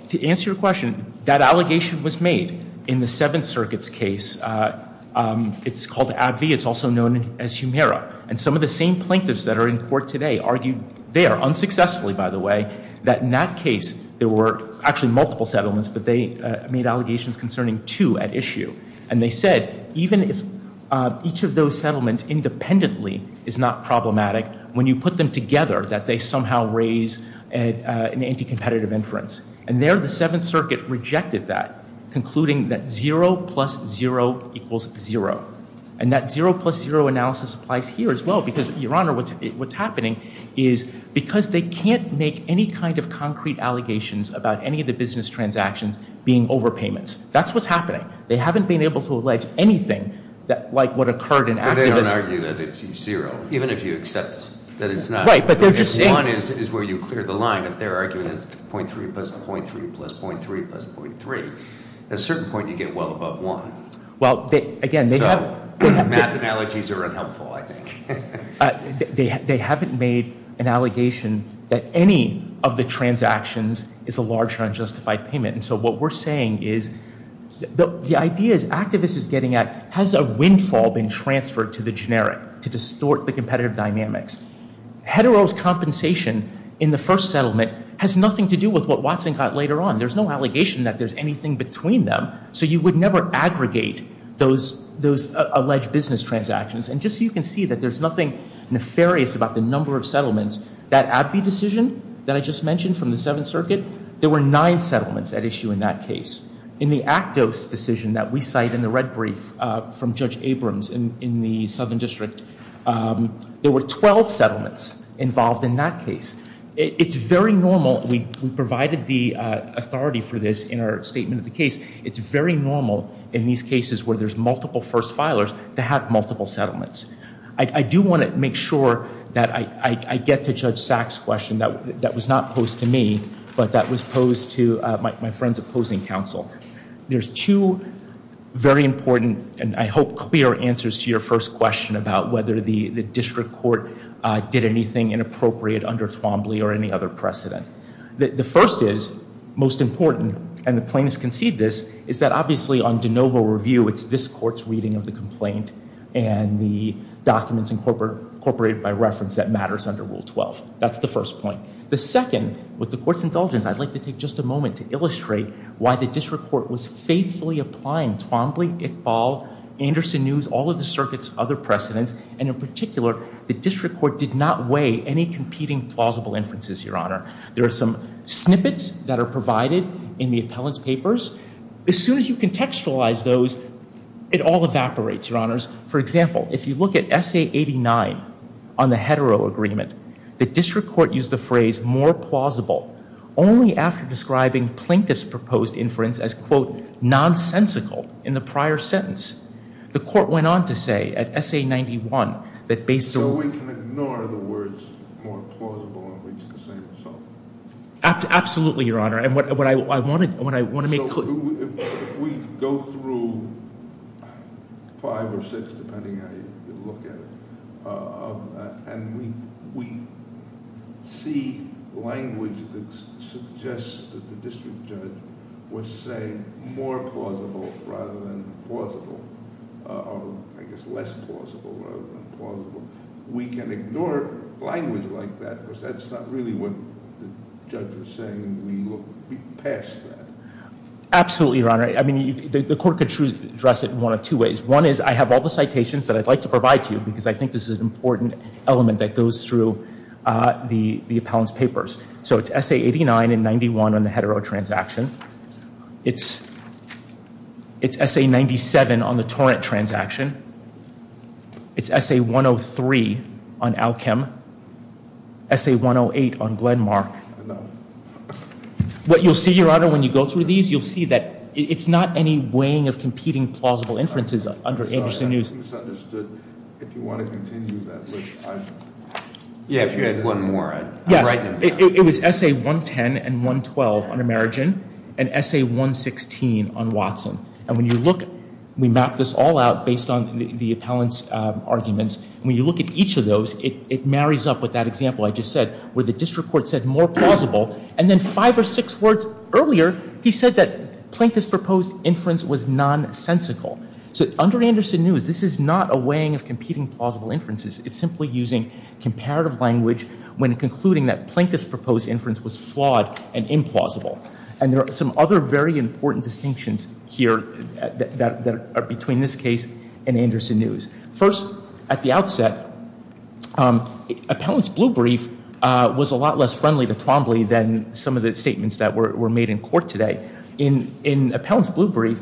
to answer your question, that allegation was made in the Seventh Circuit's case. It's called AbbVie, it's also known as Humira. And some of the same plaintiffs that are in court today argued there, unsuccessfully by the way, that in that case there were actually multiple settlements, but they made allegations concerning two at issue. And they said, even if each of those settlements independently is not problematic, when you put them together, that they somehow raise an anti-competitive inference. And there, the Seventh Circuit rejected that, concluding that zero plus zero equals zero. And that zero plus zero analysis applies here as well, because, your honor, what's happening is, because they can't make any kind of concrete allegations about any of the business transactions being overpayments. That's what's happening. They haven't been able to allege anything like what occurred in- They don't argue that it's zero, even if you accept that it's not. Right, but they're just saying- One is where you clear the line, if their argument is 0.3 plus 0.3 plus 0.3 plus 0.3. At a certain point, you get well above one. Well, again, they have- Math analogies are unhelpful, I think. They haven't made an allegation that any of the transactions is a large, unjustified payment. And so, what we're saying is, the idea is, activists is getting at, has a windfall been transferred to the generic to distort the competitive dynamics? Hedero's compensation in the first settlement has nothing to do with what Watson got later on. There's no allegation that there's anything between them, so you would never aggregate those alleged business transactions. And just so you can see that there's nothing nefarious about the number of settlements, that AbbVie decision that I just mentioned from the Seventh Circuit, there were nine settlements at issue in that case. In the Actos decision that we cite in the red brief from Judge Abrams in the Southern District, there were 12 settlements involved in that case. It's very normal, we provided the authority for this in our statement of the case, it's very normal in these cases where there's multiple first filers to have multiple settlements. I do want to make sure that I get to Judge Saks question that was not posed to me, but that was posed to my friend's opposing counsel. There's two very important, and I hope clear answers to your first question about whether the district court did anything inappropriate under Thrombley or any other precedent. The first is, most important, and the plaintiffs concede this, is that obviously on de novo review, it's this court's reading of the complaint. And the documents incorporated by reference that matters under Rule 12, that's the first point. The second, with the court's indulgence, I'd like to take just a moment to illustrate why the district court was faithfully applying Thrombley, Iqbal, Anderson News, all of the circuits, other precedents, and in particular, the district court did not weigh any competing plausible inferences, your honor. There are some snippets that are provided in the appellant's papers. As soon as you contextualize those, it all evaporates, your honors. For example, if you look at Essay 89 on the hetero agreement, the district court used the phrase more plausible only after describing plaintiff's proposed inference as quote, nonsensical in the prior sentence. The court went on to say at Essay 91 that based on- So we can ignore the words more plausible and at least the same result? Absolutely, your honor. And what I want to make clear- So if we go through five or six, depending how you look at it, and we see language that suggests that the district judge was saying more plausible rather than plausible, or I guess less plausible rather than plausible. We can ignore language like that because that's not really what the judge was saying. We look past that. Absolutely, your honor. I mean, the court could address it in one of two ways. One is I have all the citations that I'd like to provide to you because I think this is an important element that goes through the appellant's papers. So it's Essay 89 and 91 on the hetero transaction. It's Essay 97 on the torrent transaction. It's Essay 103 on Alchem. Essay 108 on Glenmark. Enough. What you'll see, your honor, when you go through these, you'll see that it's not any weighing of competing plausible inferences under Anderson News. I'm sorry, I misunderstood. If you want to continue that, which I've- Yeah, if you had one more, I'd- Yes, it was Essay 110 and 112 on Amerigen and Essay 116 on Watson. And when you look, we map this all out based on the appellant's arguments. When you look at each of those, it marries up with that example I just said where the district court said more plausible. And then five or six words earlier, he said that Plaintiff's proposed inference was nonsensical. So under Anderson News, this is not a weighing of competing plausible inferences. It's simply using comparative language when concluding that Plaintiff's proposed inference was flawed and implausible. And there are some other very important distinctions here that are between this case and Anderson News. First, at the outset, appellant's blue brief was a lot less friendly to Twombly than some of the statements that were made in court today. In appellant's blue brief,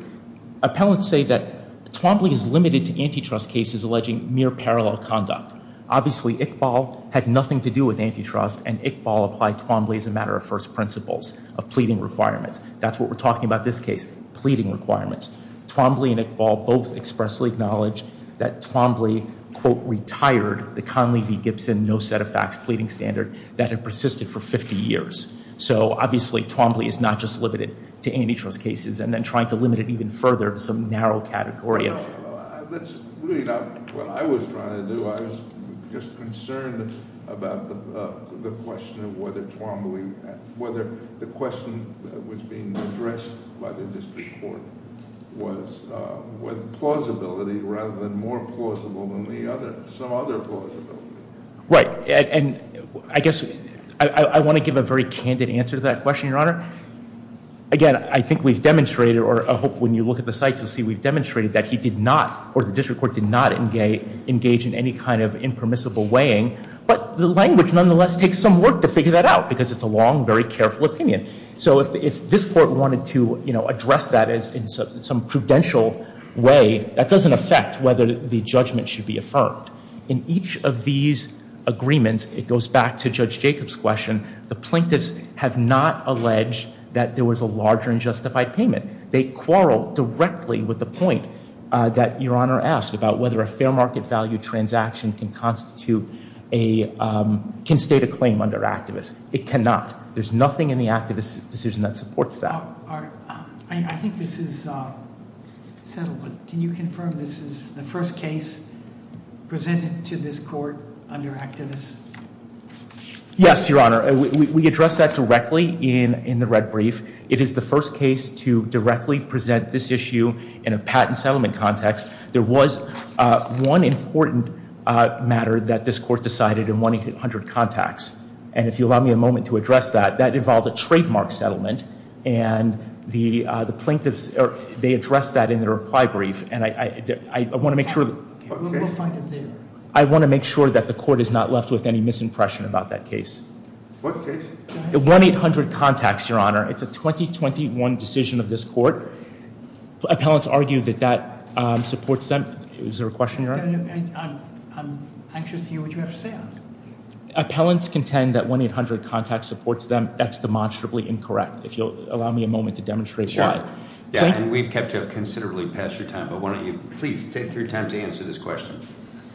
appellants say that Twombly is limited to antitrust cases alleging mere parallel conduct. Obviously, Iqbal had nothing to do with antitrust, and Iqbal applied Twombly as a matter of first principles of pleading requirements. That's what we're talking about this case, pleading requirements. Twombly and Iqbal both expressly acknowledge that Twombly, quote, retired the Conley v. Gibson no set of facts pleading standard that had persisted for 50 years. So obviously, Twombly is not just limited to antitrust cases and then trying to limit it even further to some narrow category. That's really not what I was trying to do. I was just concerned about the question of whether Twombly, whether the question that was being addressed by the district court was with plausibility rather than more plausible than the other, some other plausibility. Right. And I guess I want to give a very candid answer to that question, Your Honor. Again, I think we've demonstrated, or I hope when you look at the sites, you'll see we've demonstrated that he did not, or the district court did not engage in any kind of impermissible weighing. But the language nonetheless takes some work to figure that out because it's a long, very careful opinion. So if this court wanted to address that in some prudential way, that doesn't affect whether the judgment should be affirmed. In each of these agreements, it goes back to Judge Jacob's question. The plaintiffs have not alleged that there was a larger unjustified payment. They quarrel directly with the point that Your Honor asked about whether a fair market value transaction can constitute a, can state a claim under activist. It cannot. There's nothing in the activist decision that supports that. I think this is settled, but can you confirm this is the first case presented to this court under activist? Yes, Your Honor. We address that directly in the red brief. It is the first case to directly present this issue in a patent settlement context. There was one important matter that this court decided in 100 Contacts. And if you'll allow me a moment to address that, that involved a trademark settlement. And the plaintiffs, they addressed that in their reply brief. And I want to make sure. We'll find it there. I want to make sure that the court is not left with any misimpression about that case. What case? 1-800-CONTACTS, Your Honor. It's a 2021 decision of this court. Appellants argue that that supports them. Is there a question, Your Honor? I'm anxious to hear what you have to say on it. Appellants contend that 1-800-CONTACTS supports them. That's demonstrably incorrect. If you'll allow me a moment to demonstrate why. And we've kept you up considerably past your time, but why don't you please take your time to answer this question.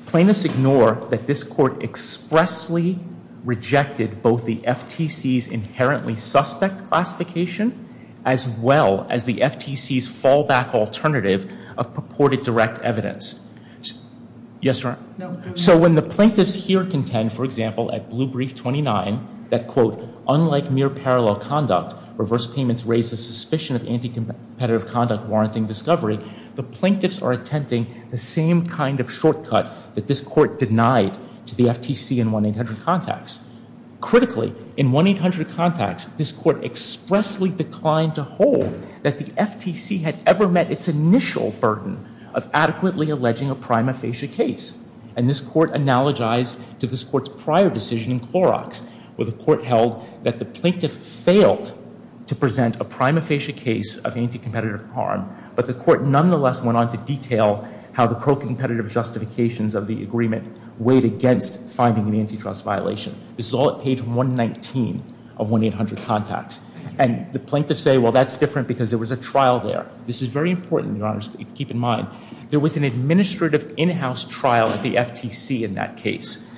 Plaintiffs ignore that this court expressly rejected both the FTC's inherently suspect classification as well as the FTC's fallback alternative of purported direct evidence. Yes, Your Honor? So when the plaintiffs here contend, for example, at Blue Brief 29, that, quote, unlike mere parallel conduct, reverse payments raise the suspicion of anti-competitive conduct warranting discovery, the plaintiffs are attempting the same kind of shortcut that this court denied to the FTC in 1-800-CONTACTS. Critically, in 1-800-CONTACTS, this court expressly declined to hold that the FTC had ever met its initial burden of adequately alleging a prima facie case. And this court analogized to this court's prior decision in Clorox, where the court held that the plaintiff failed to present a prima facie case of anti-competitive harm, but the court nonetheless went on to detail how the pro-competitive justifications of the agreement weighed against finding an antitrust violation. This is all at page 119 of 1-800-CONTACTS. And the plaintiffs say, well, that's different because there was a trial there. This is very important, Your Honor, to keep in mind. There was an administrative in-house trial at the FTC in that case.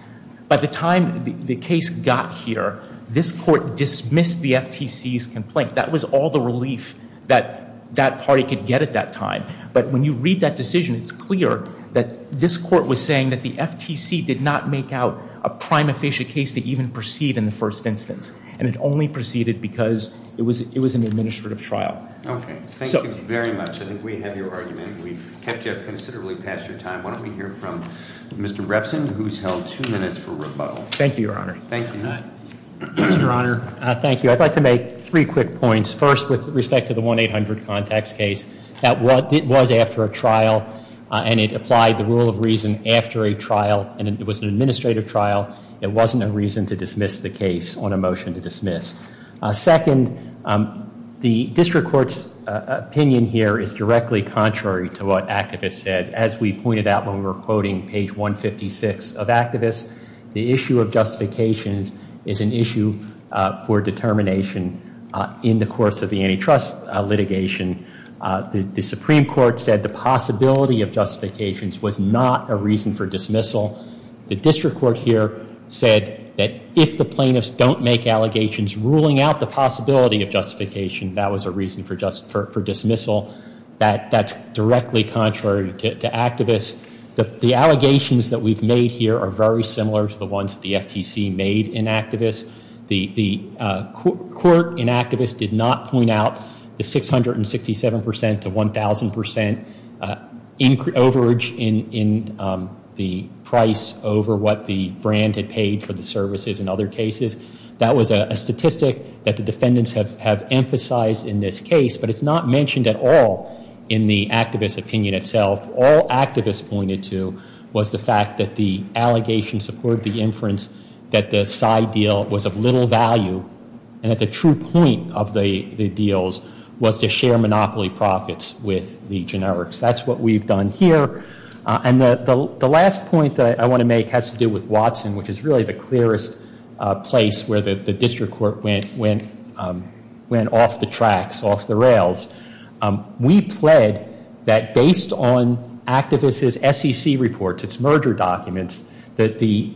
By the time the case got here, this court dismissed the FTC's complaint. That was all the relief that that party could get at that time. But when you read that decision, it's clear that this court was saying that the FTC did not make out a prima facie case to even proceed in the first instance. And it only proceeded because it was an administrative trial. Okay. Thank you very much. I think we have your argument. We've kept you up considerably past your time. Why don't we hear from Mr. Repson, who's held two minutes for rebuttal. Thank you, Your Honor. Thank you. Mr. Honor, thank you. I'd like to make three quick points. First, with respect to the 1-800-CONTACTS case, that was after a trial and it applied the rule of reason after a trial. And it was an administrative trial. It wasn't a reason to dismiss the case on a motion to dismiss. Second, the district court's opinion here is directly contrary to what activists said. As we pointed out when we were quoting page 156 of activists, the issue of justifications is an issue for determination in the course of the antitrust litigation. The Supreme Court said the possibility of justifications was not a reason for dismissal. The district court here said that if the plaintiffs don't make allegations ruling out the possibility of justification, that was a reason for dismissal. That's directly contrary to activists. The allegations that we've made here are very similar to the ones the FTC made in activists. The court in activists did not point out the 667% to 1,000% overage in the price over what the brand had paid for the services in other cases. That was a statistic that the defendants have emphasized in this case, but it's not mentioned at all in the activist opinion itself. All activists pointed to was the fact that the allegation supported the inference that the side deal was of little value, and that the true point of the deals was to share monopoly profits with the generics. That's what we've done here. And the last point that I want to make has to do with Watson, which is really the clearest place where the district court went off the tracks, off the rails. We pled that based on activists' SEC reports, its merger documents, that the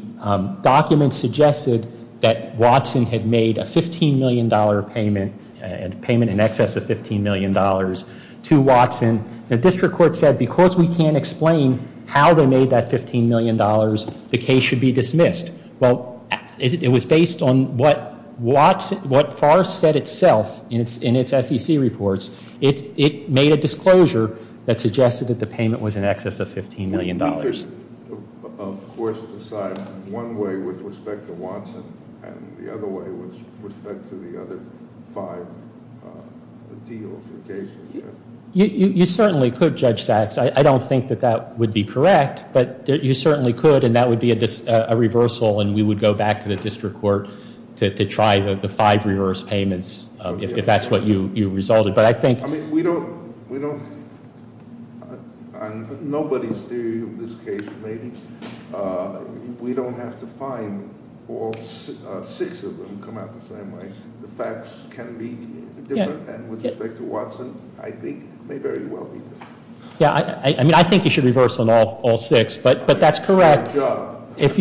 documents suggested that Watson had made a $15 million payment, a payment in excess of $15 million to Watson. The district court said because we can't explain how they made that $15 million, the case should be dismissed. Well, it was based on what Farr said itself in its SEC reports. It made a disclosure that suggested that the payment was in excess of $15 million. You certainly could, Judge Sachs. I don't think that that would be correct, but you certainly could, and that would be a reversal, and we would go back to the district court to try the five reverse payments, if that's what you resulted. But I think- I mean, we don't, nobody's theory of this case, maybe. We don't have to find all six of them come out the same way. The facts can be different, and with respect to Watson, I think, may very well be different. Yeah, I mean, I think you should reverse on all six, but that's correct. Good job. If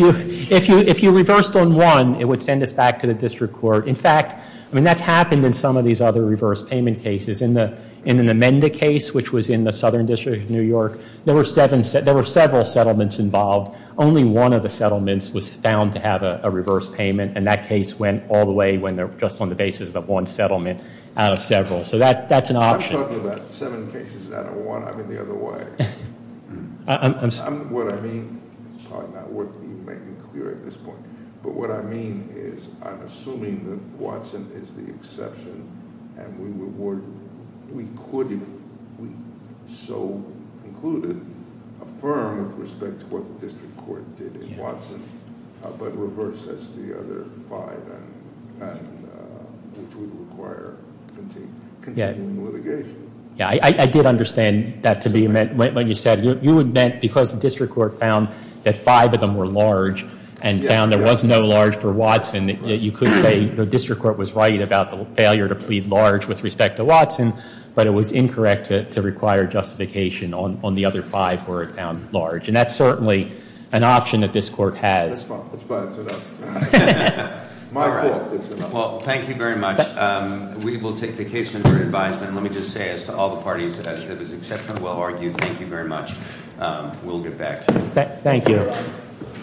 you reversed on one, it would send us back to the district court. In fact, I mean, that's happened in some of these other reverse payment cases. In the Menda case, which was in the Southern District of New York, there were several settlements involved. Only one of the settlements was found to have a reverse payment, and that case went all the way when they're just on the basis of one settlement out of several. So that's an option. I'm talking about seven cases out of one. I'm in the other way. I'm sorry. What I mean, it's probably not worth me making it clear at this point, but what I mean is I'm assuming that Watson is the exception, and we would, we could, if we so concluded, affirm with respect to what the district court did in Watson, but reverse as the other five, and which would require continuing litigation. Yeah, I did understand that to be meant when you said you would, because the district court found that five of them were large and found there was no large for Watson, that you could say the district court was right about the failure to plead large with respect to Watson, but it was incorrect to require justification on the other five where it found large. And that's certainly an option that this court has. That's fine. Well, thank you very much. We will take the case under advisement. Let me just say, as to all the parties, it was exceptionally well argued. Thank you very much. We'll get back to you. Thank you.